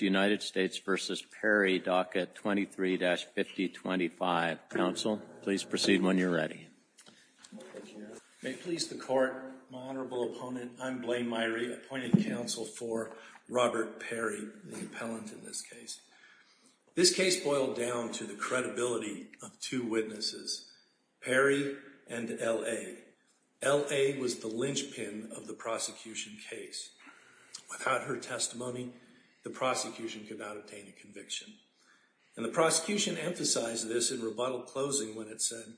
23-5025. Counsel, please proceed when you're ready. May it please the Court, my Honorable Opponent, I'm Blaine Meyrie, appointing counsel for Robert Perry, the appellant in this case. This case boiled down to the credibility of two witnesses, Perry and L.A. L.A. was the linchpin of the prosecution case. Without her testimony, the prosecution could not obtain a conviction. And the prosecution emphasized this in rebuttal closing when it said,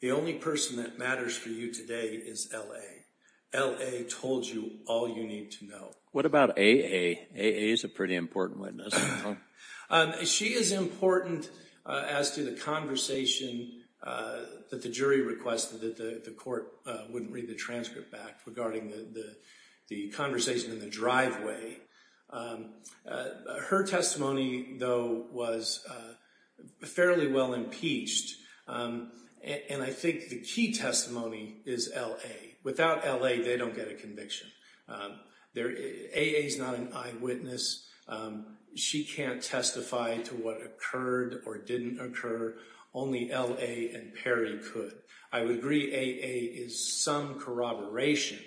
the only person that matters for you today is L.A. L.A. told you all you need to know. What about A.A.? A.A. is a pretty important witness. She is important as to the conversation that the jury requested that the court wouldn't regarding the conversation in the driveway. Her testimony, though, was fairly well impeached. And I think the key testimony is L.A. Without L.A., they don't get a conviction. A.A.'s not an eyewitness. She can't testify to what occurred or didn't occur. Only L.A. and corroboration.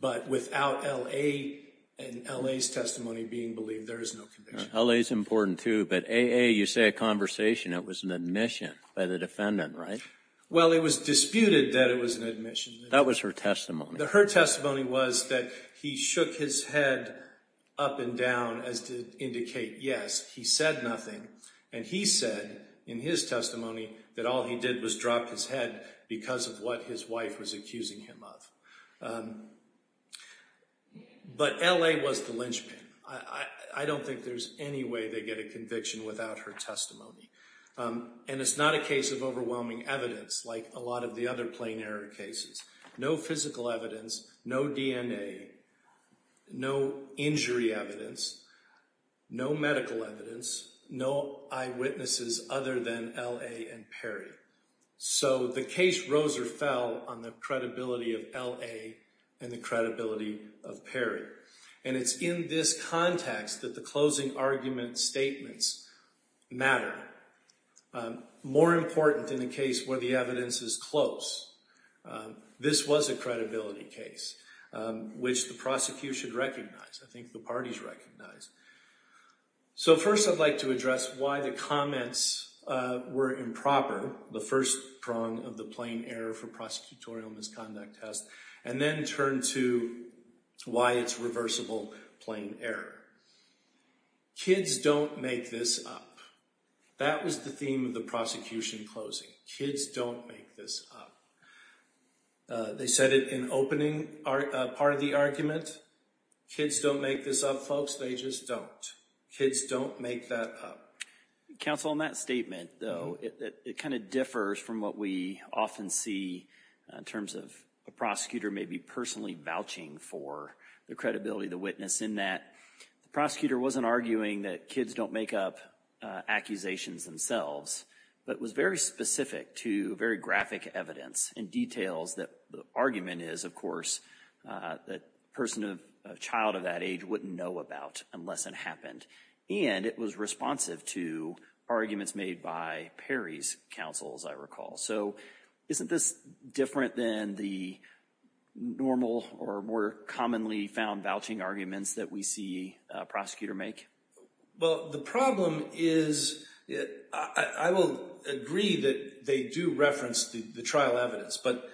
But without L.A. and L.A.'s testimony being believed, there is no conviction. L.A.'s important, too. But A.A., you say a conversation that was an admission by the defendant, right? Well, it was disputed that it was an admission. That was her testimony. Her testimony was that he shook his head up and down as to indicate yes. He said nothing. And he said in his testimony that all he did was drop his head because of what his wife was accusing him of. But L.A. was the linchpin. I don't think there's any way they get a conviction without her testimony. And it's not a case of overwhelming evidence like a lot of the other plain error cases. No physical evidence. No DNA. No injury evidence. No medical evidence. No eyewitnesses other than L.A. and Perry. So the case rose or fell on the credibility of L.A. and the credibility of Perry. And it's in this context that the closing argument statements matter. More important than the case where the evidence is close. This was a credibility case, which the prosecution recognized. I think the parties recognized. So first, I'd like to address why the comments were improper. The first prong of the plain error for prosecutorial misconduct test. And then turn to why it's reversible plain error. Kids don't make this up. That was the theme of the prosecution closing. Kids don't make this up. They said it in opening part of the argument. Kids don't make this up, folks. Most ages don't. Kids don't make that up. Counsel, on that statement, though, it kind of differs from what we often see in terms of a prosecutor maybe personally vouching for the credibility of the witness in that the prosecutor wasn't arguing that kids don't make up accusations themselves, but was very specific to very graphic evidence and details that the argument is, of course, that a person of a child of that age wouldn't know about unless it happened. And it was responsive to arguments made by Perry's counsel, as I recall. So isn't this different than the normal or more commonly found vouching arguments that we see a prosecutor make? Well, the problem is, I will agree that they do reference the trial evidence, but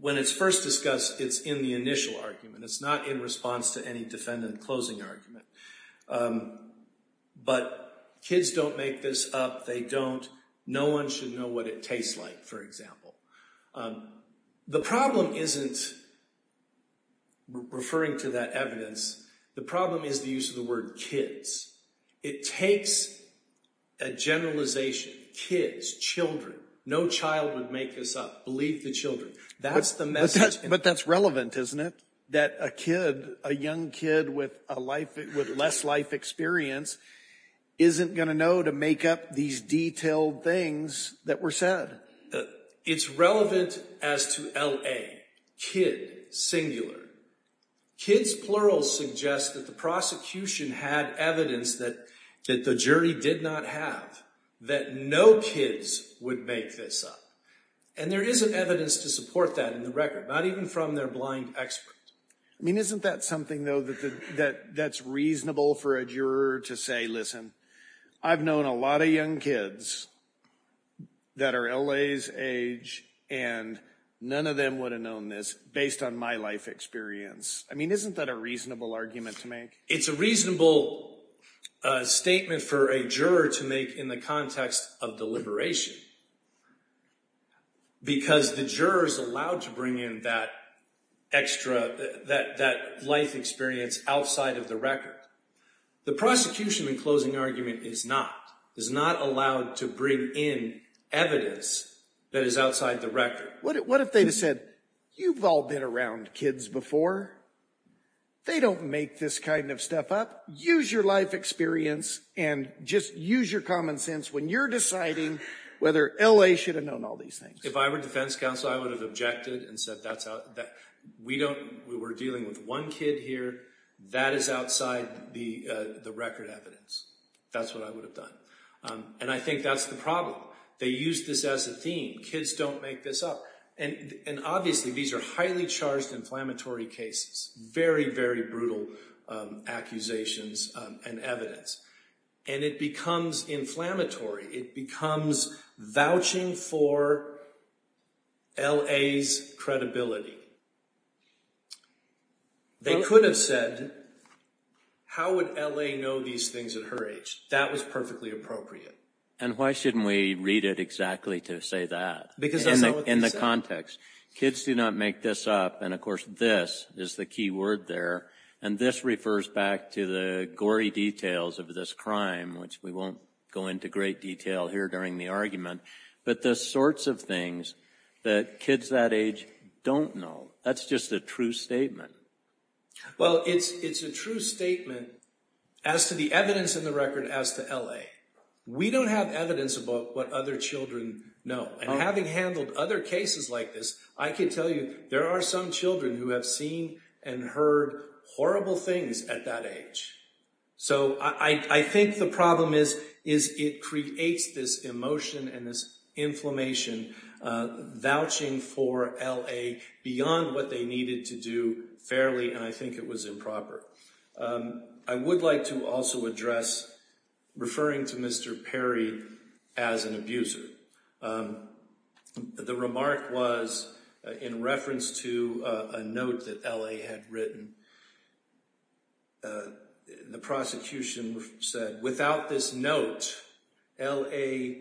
when it's first discussed, it's in the initial argument. It's not in response to any defendant closing argument. But kids don't make this up. They don't. No one should know what it tastes like, for example. The problem isn't referring to that evidence. The problem is the use of the word kids. It takes a generalization, kids, children. No child would make this up. Believe the children. That's the message. But that's relevant, isn't it? That a kid, a young kid with less life experience isn't going to know to make up these detailed things that were said. It's relevant as to LA. Kid, singular. Kids, plural, suggests that the prosecution had evidence that the jury did not have, that no kids would make this up. And there isn't evidence to support that in the record, not even from their blind expert. I mean, isn't that something, though, that's reasonable for a juror to say, listen, I've known a lot of young kids that are LA's age, and none of them would have known this based on my life experience. I mean, isn't that a reasonable argument to make? It's a reasonable statement for a juror to make in the context of deliberation, because the juror is allowed to bring in that extra, that life experience outside of the record. The prosecution, in closing argument, is not. Is not allowed to bring in evidence that is outside the record. What if they just said, you've all been around kids before. They don't make this kind of stuff up. Use your life experience and just use your common sense when you're deciding whether LA should have known all these things. If I were defense counsel, I would have objected and said that's out, that we don't, we're dealing with one kid here, that is outside the record evidence. That's what I would have done. And I think that's the problem. They use this as a theme. Kids don't make this up. And obviously, these are highly charged inflammatory cases. Very, very brutal accusations and evidence. And it becomes inflammatory. It becomes vouching for LA's credibility. They could have said, how would LA know these things at her age? That was perfectly appropriate. And why shouldn't we read it exactly to say that? Because that's not what they said. In the context. Kids do not make this up. And of course, this is the key word there. And this refers back to the gory details of this crime, which we won't go into great detail here during the argument. But the sorts of things that kids that age don't know. That's just a true statement. Well, it's a true statement as to the evidence in the record as to LA. We don't have evidence about what other children know. And having handled other cases like this, I can tell you there are some children who have seen and heard horrible things at that age. So I think the problem is it creates this emotion and this inflammation, vouching for LA beyond what they needed to do fairly. And I think it was improper. I would like to also address referring to Mr. Perry as an abuser. The remark was in reference to a note that LA had written. The prosecution said without this note, LA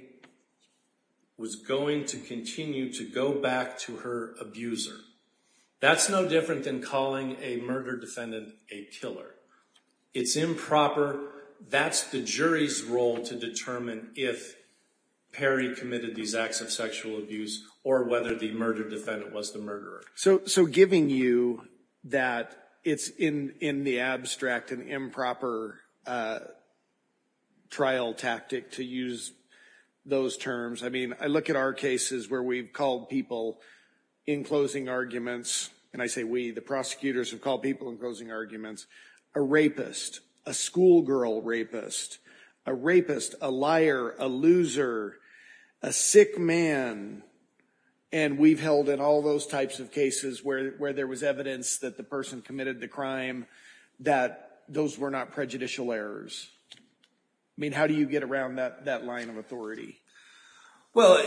was going to continue to go back to her abuser. That's no different than calling a murder defendant a killer. It's improper. That's the jury's role to determine if Perry committed these acts of sexual abuse or whether the murder defendant was the murderer. So giving you that it's in the abstract an improper trial tactic to use those terms. I mean, I look at our cases where we've called people in closing arguments. And I say we, the prosecutors have called people in closing arguments, a rapist, a schoolgirl rapist, a rapist, a liar, a loser, a sick man. And we've held in all those types of cases where there was evidence that the person committed the crime, that those were not prejudicial errors. I mean, how do you get around that line of authority? Well,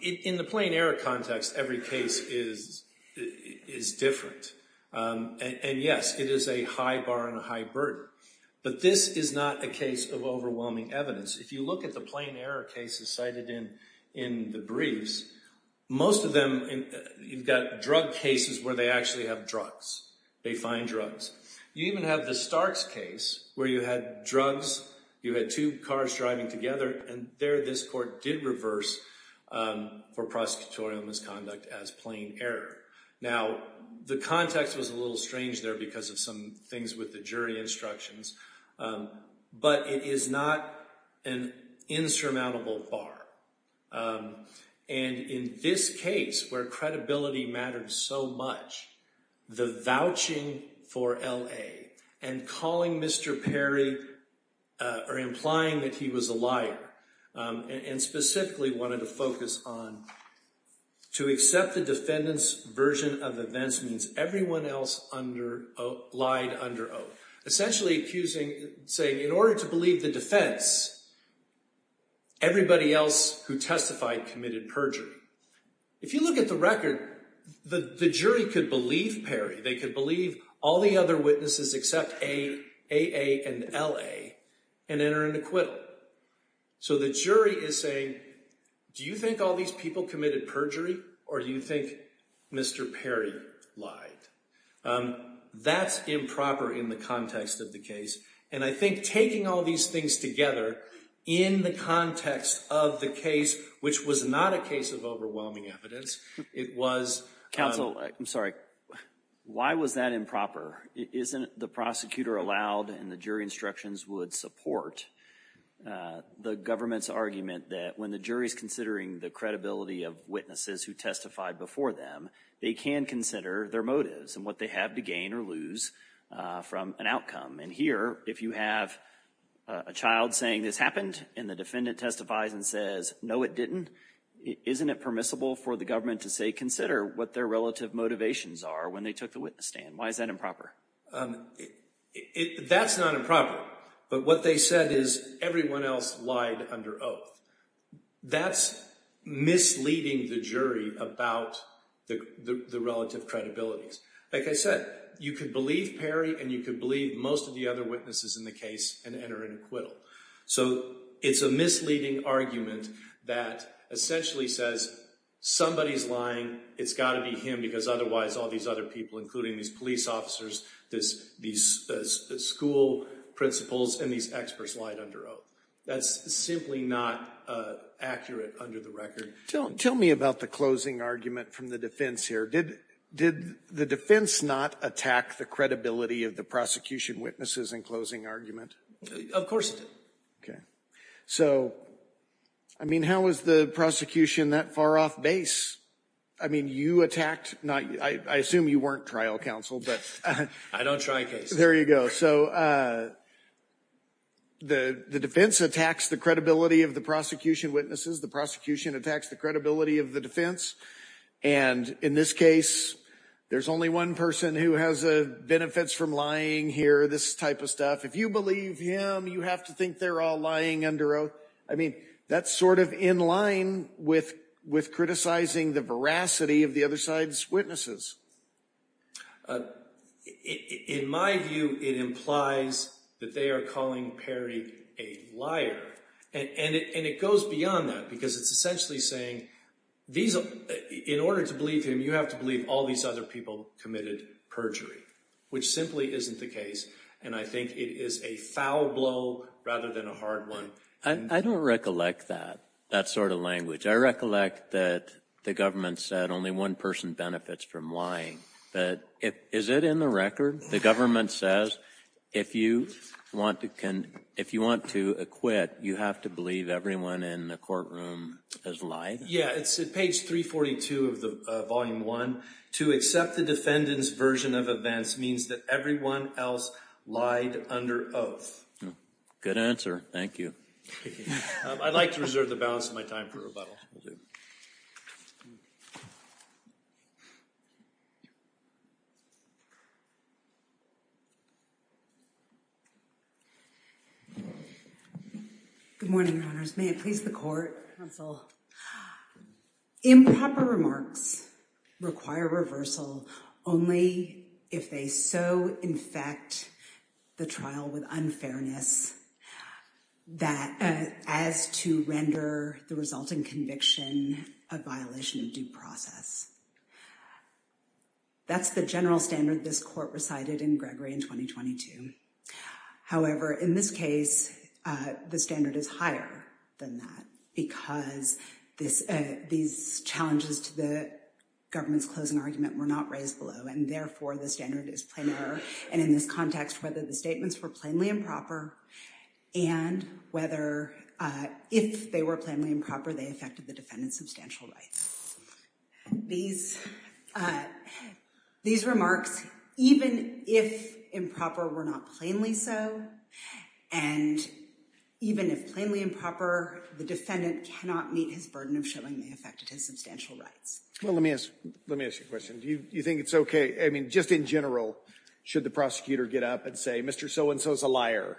in the plain error context, every case is different. And yes, it is a high bar and a high burden. But this is not a case of overwhelming evidence. If you look at the plain error cases cited in the briefs, most of them, you've got drug cases where they actually have drugs. They find drugs. You even have the Starks case where you had drugs. You had two cars driving together. And there this court did reverse for prosecutorial misconduct as plain error. Now, the context was a little strange there because of some things with the jury instructions. But it is not an insurmountable bar. And in this case where credibility mattered so much, the vouching for L.A. and calling Mr. Perry or implying that he was a liar and specifically wanted to focus on, to accept the defendant's version of events means everyone else lied under oath. Essentially accusing, saying, in order to believe the defense, everybody else who testified committed perjury. If you look at the record, the jury could believe Perry. They could believe all the other witnesses except A.A. and L.A. and enter into acquittal. So the jury is saying, do you think all these people committed perjury or do you think Mr. Perry lied? That's improper in the context of the case. And I think taking all these things together in the context of the case, which was not a case of overwhelming evidence, it was— Counsel, I'm sorry. Why was that improper? Isn't the prosecutor allowed and the jury instructions would support the government's argument that when the jury is considering the credibility of witnesses who testified before them, they can consider their motives and what they have to gain or lose from an outcome? And here, if you have a child saying this happened and the defendant testifies and says, no, it didn't, isn't it permissible for the government to say consider what their relative motivations are when they took the witness stand? Why is that improper? That's not improper. But what they said is everyone else lied under oath. That's misleading the jury about the relative credibilities. Like I said, you could believe Perry and you could believe most of the other witnesses in the case and enter into acquittal. So it's a misleading argument that essentially says somebody's lying. It's got to be him because otherwise all these other people, including these police officers, these school principals, and these experts lied under oath. That's simply not accurate under the record. Tell me about the closing argument from the defense here. Did the defense not attack the credibility of the prosecution witnesses in closing argument? Of course it did. Okay. So, I mean, how was the prosecution that far off base? I mean, you attacked, I assume you weren't trial counsel, but... I don't try cases. There you go. So the defense attacks the credibility of the prosecution witnesses. The prosecution attacks the credibility of the defense. And in this case, there's only one person who has benefits from lying here, this type of stuff. If you believe him, you have to think they're all lying under oath. I mean, that's sort of in line with criticizing the veracity of the other side's witnesses. In my view, it implies that they are calling Perry a liar. And it goes beyond that because it's essentially saying, in order to believe him, you have to believe all these other people committed perjury, which simply isn't the case. And I think it is a foul blow rather than a hard one. I don't recollect that, that sort of language. I recollect that the government said only one benefits from lying. But is it in the record? The government says, if you want to acquit, you have to believe everyone in the courtroom has lied? Yeah, it's at page 342 of Volume 1. To accept the defendant's version of events means that everyone else lied under oath. Good answer. Thank you. I'd like to reserve the balance of my time for rebuttal. Good morning, Your Honors. May it please the Court, counsel. Improper remarks require reversal only if they so infect the trial with unfairness as to render the resulting conviction a violation of due process. That's the general standard this Court recited in Gregory in 2022. However, in this case, the standard is higher than that because these challenges to the government's closing argument were not raised below. And therefore, the standard is plain error. And in this context, whether the statements were plainly improper and whether if they were substantial rights, these remarks, even if improper, were not plainly so. And even if plainly improper, the defendant cannot meet his burden of showing they affected his substantial rights. Well, let me ask you a question. Do you think it's okay? I mean, just in general, should the prosecutor get up and say, Mr. So-and-so is a liar?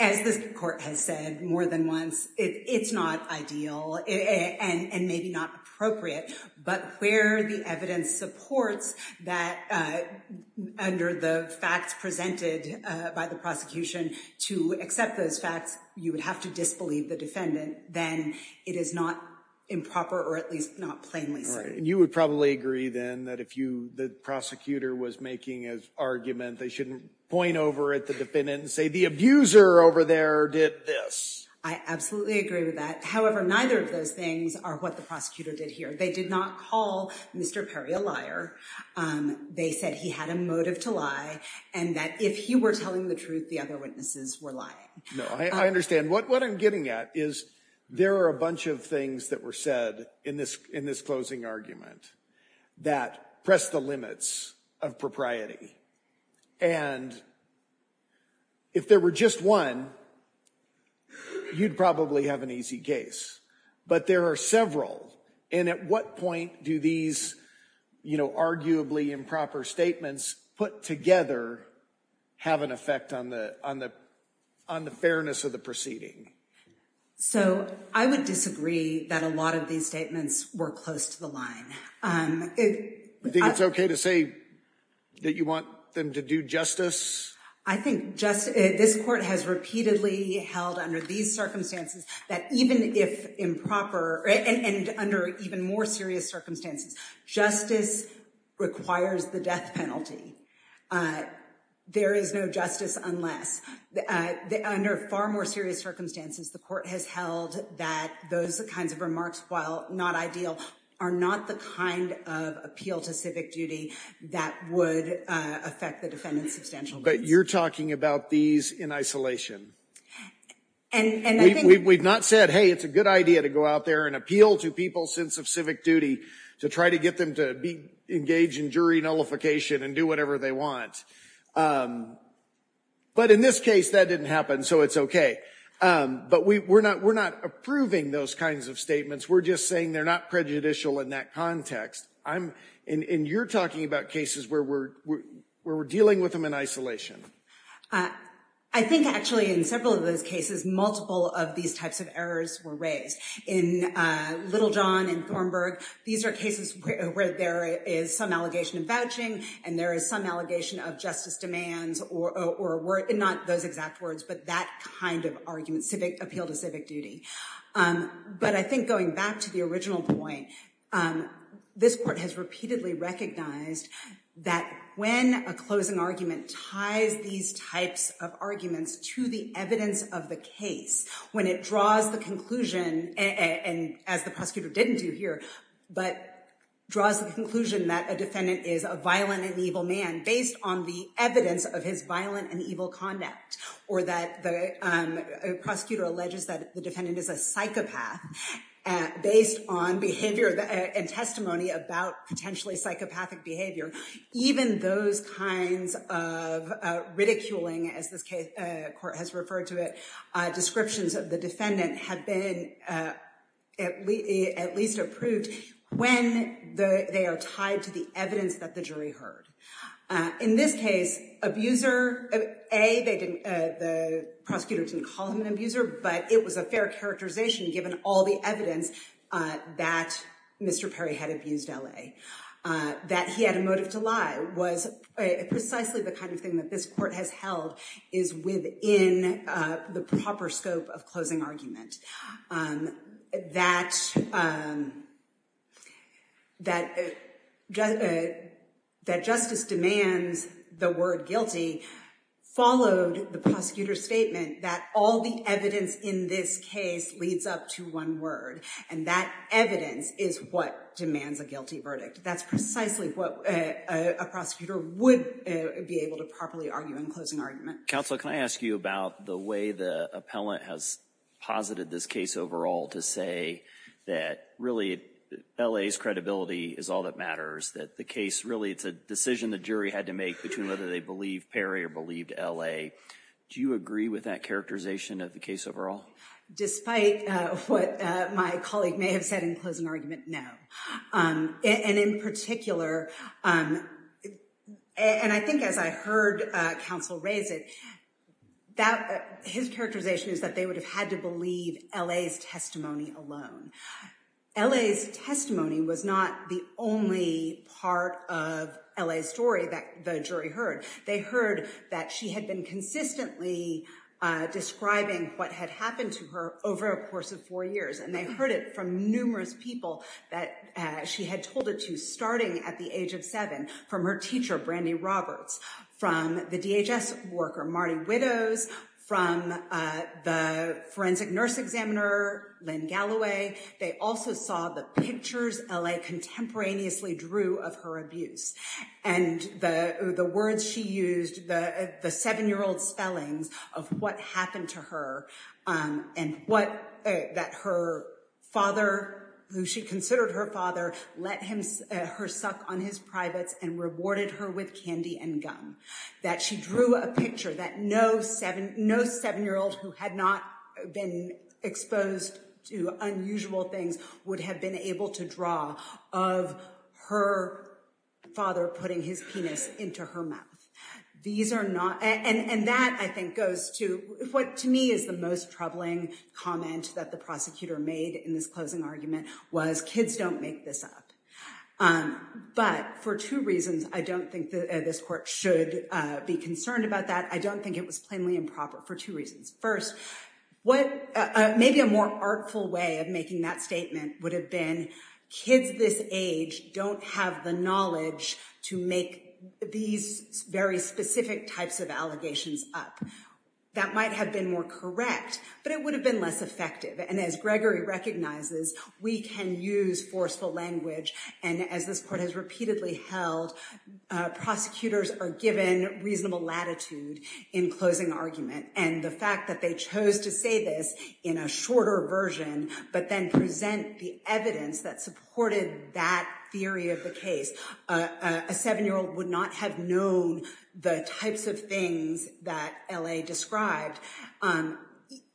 As this Court has said more than once, it's not ideal and maybe not appropriate. But where the evidence supports that under the facts presented by the prosecution to accept those facts, you would have to disbelieve the defendant. Then it is not improper or at least not plainly so. You would probably agree then that if the prosecutor was making an argument, they shouldn't point over at the defendant and say, the abuser over there did this. I absolutely agree with that. However, neither of those things are what the prosecutor did here. They did not call Mr. Perry a liar. They said he had a motive to lie and that if he were telling the truth, the other witnesses were lying. No, I understand. What I'm getting at is there are a bunch of things that were said in this closing argument that press the limits of propriety. And if there were just one, you'd probably have an easy case. But there are several. And at what point do these, you know, arguably improper statements put together have an effect on the fairness of the proceeding? So I would disagree that a lot of these statements were close to the line. Do you think it's okay to say that you want them to do justice? I think just this court has repeatedly held under these circumstances that even if improper and under even more serious circumstances, justice requires the death penalty. But there is no justice unless under far more serious circumstances, the court has held that those kinds of remarks, while not ideal, are not the kind of appeal to civic duty that would affect the defendant substantial. But you're talking about these in isolation. And we've not said, hey, it's a good idea to go out there and appeal to people's sense of civic qualification and do whatever they want. But in this case, that didn't happen, so it's okay. But we're not approving those kinds of statements. We're just saying they're not prejudicial in that context. And you're talking about cases where we're dealing with them in isolation. I think actually in several of those cases, multiple of these types of errors were raised. In Littlejohn and Thornburg, these are cases where there is some allegation of vouching, and there is some allegation of justice demands, or not those exact words, but that kind of argument, appeal to civic duty. But I think going back to the original point, this court has repeatedly recognized that when a closing argument ties these types of arguments to the evidence of the case, when it draws the conclusion, and as the prosecutor didn't do here, but draws the conclusion that a defendant is a violent and evil man based on the evidence of his violent and evil conduct, or that the prosecutor alleges that the defendant is a psychopath based on behavior and testimony about potentially psychopathic behavior, even those kinds of ridiculing, as this court has referred to it, descriptions of the defendant have been at least approved when they are tied to the evidence that the jury heard. In this case, abuser, A, the prosecutor didn't call him an abuser, but it was a fair characterization given all the evidence that Mr. Perry had abused L.A. That he had a motive to lie was precisely the kind of thing that this court has held is within the proper scope of closing argument. That justice demands the word guilty followed the prosecutor's statement that all the evidence in this case leads up to one word, and that evidence is what demands a guilty verdict. That's precisely what a prosecutor would be able to properly argue in closing argument. Counsel, can I ask you about the way the appellant has posited this case overall to say that really L.A.'s credibility is all that matters, that the case really it's a decision the jury had to make between whether they believe Perry or believed L.A. Do you agree with that characterization of the case overall? Despite what my colleague may have said in closing argument, no. And in particular, and I think as I heard counsel raise it, that his characterization is that they would have had to believe L.A.'s testimony alone. L.A.'s testimony was not the only part of L.A.'s story that the jury heard. They heard that she had been consistently describing what had happened to her over a course of four years. And they heard it from numerous people that she had told it to, starting at the age of seven, from her teacher, Brandy Roberts, from the DHS worker, Marty Widows, from the forensic nurse examiner, Lynn Galloway. They also saw the pictures L.A. contemporaneously drew of her abuse and the words she used, the seven-year-old spellings of what happened to her and what that her father, who she considered her father, let her suck on his privates and rewarded her with candy and gum. That she drew a picture that no seven-year-old who had not been exposed to unusual things would have been able to draw of her father putting his penis into her mouth. These are not, and that I think goes to what to me is the most troubling comment that the prosecutor made in this closing argument was kids don't make this up. But for two reasons, I don't think that this court should be concerned about that. I don't think it was plainly improper for two reasons. First, what maybe a more artful way of making that statement would have been kids this age don't have the knowledge to make these very specific types of allegations up. That might have been more correct, but it would have been less effective. And as Gregory recognizes, we can use forceful language. And as this court has repeatedly held, prosecutors are given reasonable latitude in closing argument. And the fact that they chose to say this in a shorter version, but then present the evidence that supported that theory of the case. A seven-year-old would not have known the types of things that L.A. described. And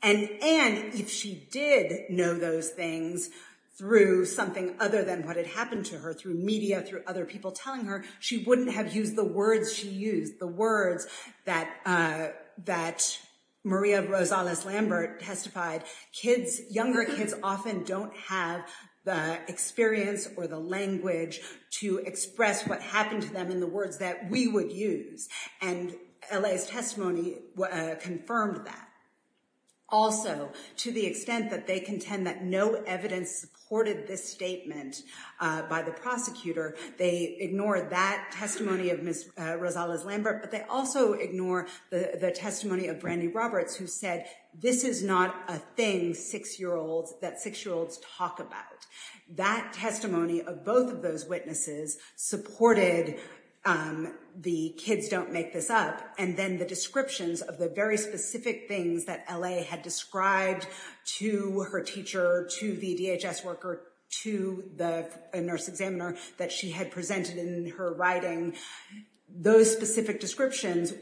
if she did know those things through something other than what had happened to her, through media, through people telling her, she wouldn't have used the words she used, the words that Maria Rosales-Lambert testified. Kids, younger kids often don't have the experience or the language to express what happened to them in the words that we would use. And L.A.'s testimony confirmed that. Also, to the extent that they contend that no evidence supported this statement by the prosecutor, they ignore that testimony of Ms. Rosales-Lambert. But they also ignore the testimony of Brandy Roberts, who said, this is not a thing six-year-olds, that six-year-olds talk about. That testimony of both of those witnesses supported the kids don't make this up. And then the descriptions of the very specific things that L.A. had described to her teacher, to the DHS worker, to the nurse examiner that she had presented in her writing, those specific descriptions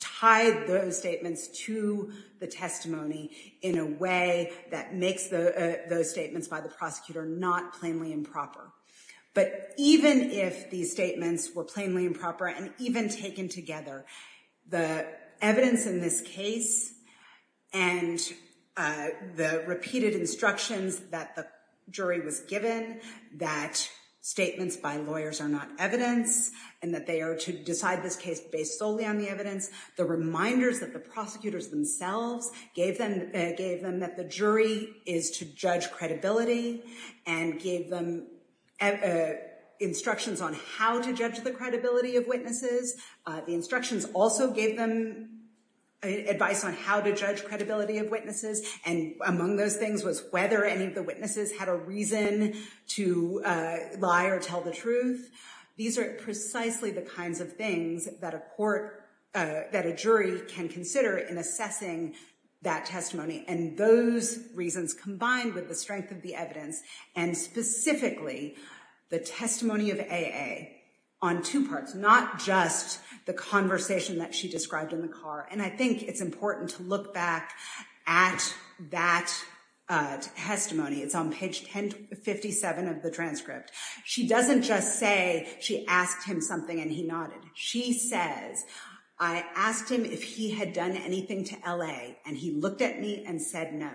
tied those statements to the testimony in a way that makes those statements by the prosecutor not plainly improper. But even if these statements were plainly improper and even taken together, the evidence in this case and the repeated instructions that the jury was given that statements by lawyers are not evidence and that they are to decide this case based solely on the evidence, the reminders that the prosecutors themselves gave them that the jury is to judge credibility and gave them instructions on how to judge the credibility of witnesses. The instructions also gave them advice on how to judge credibility of witnesses. And among those things was whether any of the witnesses had a reason to lie or tell the truth. These are precisely the kinds of things that a court, that a jury can consider in assessing that testimony. And those reasons combined with the strength of the evidence and specifically the testimony of A.A. on two parts, not just the conversation that she described in the car. And I think it's important to look back at that testimony. It's on page 1057 of the transcript. She doesn't just say she asked him something and he nodded. She says, I asked him if he had done anything to L.A. and he looked at me and said no.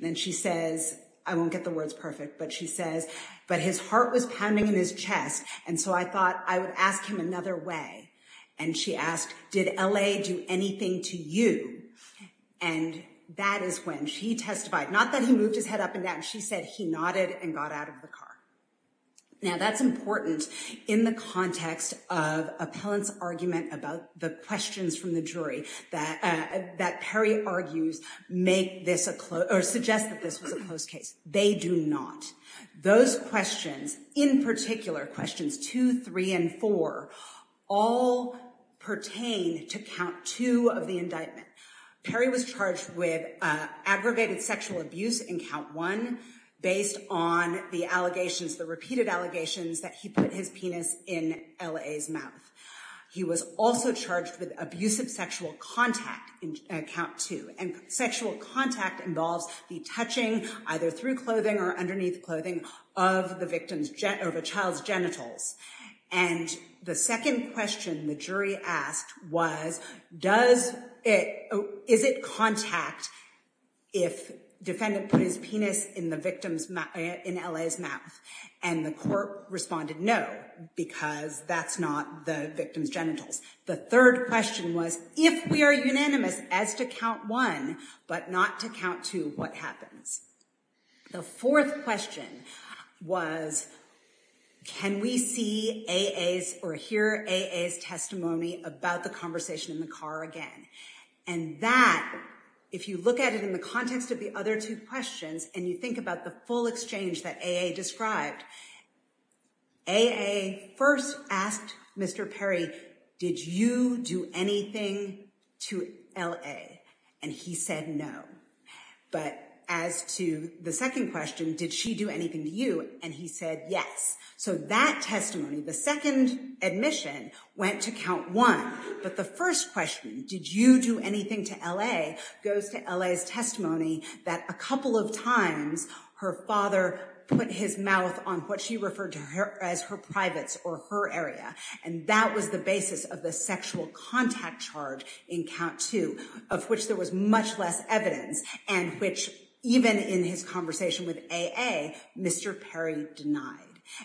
Then she says, I won't get the words perfect, but she says, but his heart was pounding in his chest. And so I thought I would ask him another way. And she asked, did L.A. do anything to you? And that is when she testified, not that he moved his head up and down. She said he nodded and got out of the car. Now, that's important in the context of appellant's argument about the questions from the jury that Perry argues make this a, or suggest that this was a closed case. They do not. Those questions in particular, questions two, three, and four, all pertain to count two of the indictment. Perry was charged with aggravated sexual abuse in count one based on the allegations, the repeated allegations that he put his penis in L.A.'s mouth. He was also charged with abusive sexual contact in count two and sexual contact involves the touching either through clothing or underneath clothing of the victim's, of a child's genitals. And the second question the jury asked was, does it, is it contact if defendant put his in the victim's, in L.A.'s mouth? And the court responded, no, because that's not the victim's genitals. The third question was, if we are unanimous as to count one, but not to count two, what happens? The fourth question was, can we see A.A.'s or hear A.A.'s testimony about the conversation in the car again? And that, if you look at it in the context of the other two questions and you think about the full exchange that A.A. described, A.A. first asked Mr. Perry, did you do anything to L.A.? And he said, no. But as to the second question, did she do anything to you? And he said, yes. So that testimony, the second admission went to count one. But the first question, did you do anything to L.A.? goes to L.A.'s testimony that a couple of times her father put his mouth on what she referred to her as her privates or her area. And that was the basis of the sexual contact charge in count two, of which there was much less evidence and which even in his conversation with A.A., Mr. Perry denied.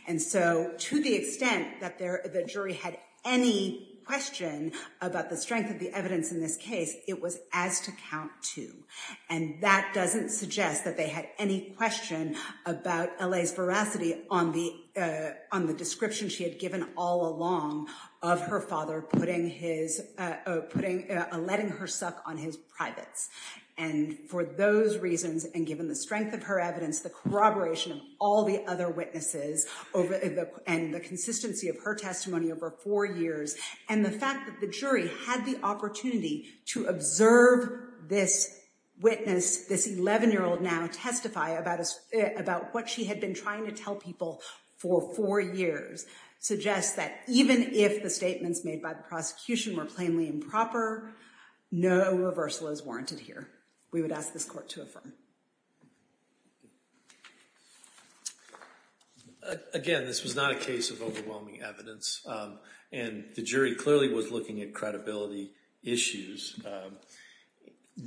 And so to the extent that the jury had any question about the strength of the evidence in this case, it was as to count two. And that doesn't suggest that they had any question about L.A.'s veracity on the, on the description she had given all along of her father putting his, putting, letting her suck on his privates. And for those reasons, and given the strength of her evidence, the corroboration of all the other witnesses over the, and the consistency of her testimony over four years, and the fact that the jury had the opportunity to observe this witness, this 11-year-old now testify about what she had been trying to tell people for four years, suggests that even if the statements made by the prosecution were plainly improper, no reversal is warranted here. We would ask this court to affirm. Again, this was not a case of overwhelming evidence, and the jury clearly was looking at credibility issues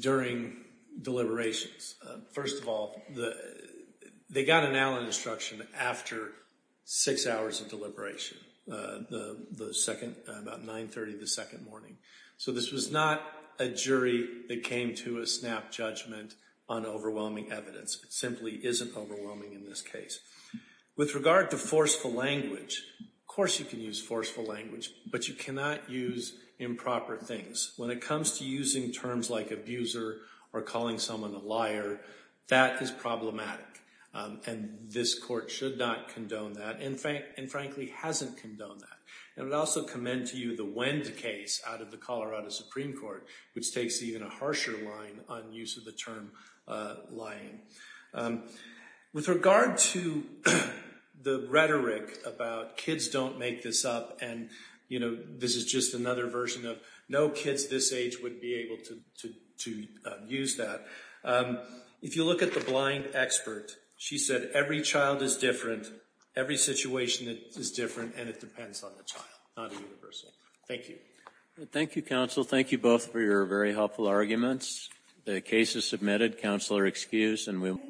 during deliberations. First of all, they got an Allen instruction after six hours of deliberation, the second, about 930 the second morning. So this was not a jury that came to a snap judgment on overwhelming evidence. It simply isn't overwhelming in this case. With regard to forceful language, of course you can use forceful language, but you cannot use improper things. When it comes to using terms like abuser or calling someone a liar, that is problematic. And this court should not condone that, and frankly hasn't condoned that. I would also commend to you the Wend case out of the Colorado Supreme Court, which takes even a harsher line on use of the term lying. With regard to the rhetoric about kids don't make this up, and this is just another version of no kids this age would be able to use that, if you look at the blind expert, she said every child is different, every situation is different, and it depends on the child, not a universal. Thank you. Thank you counsel. Thank you both for your very helpful arguments. The case is submitted. Counsel are excused.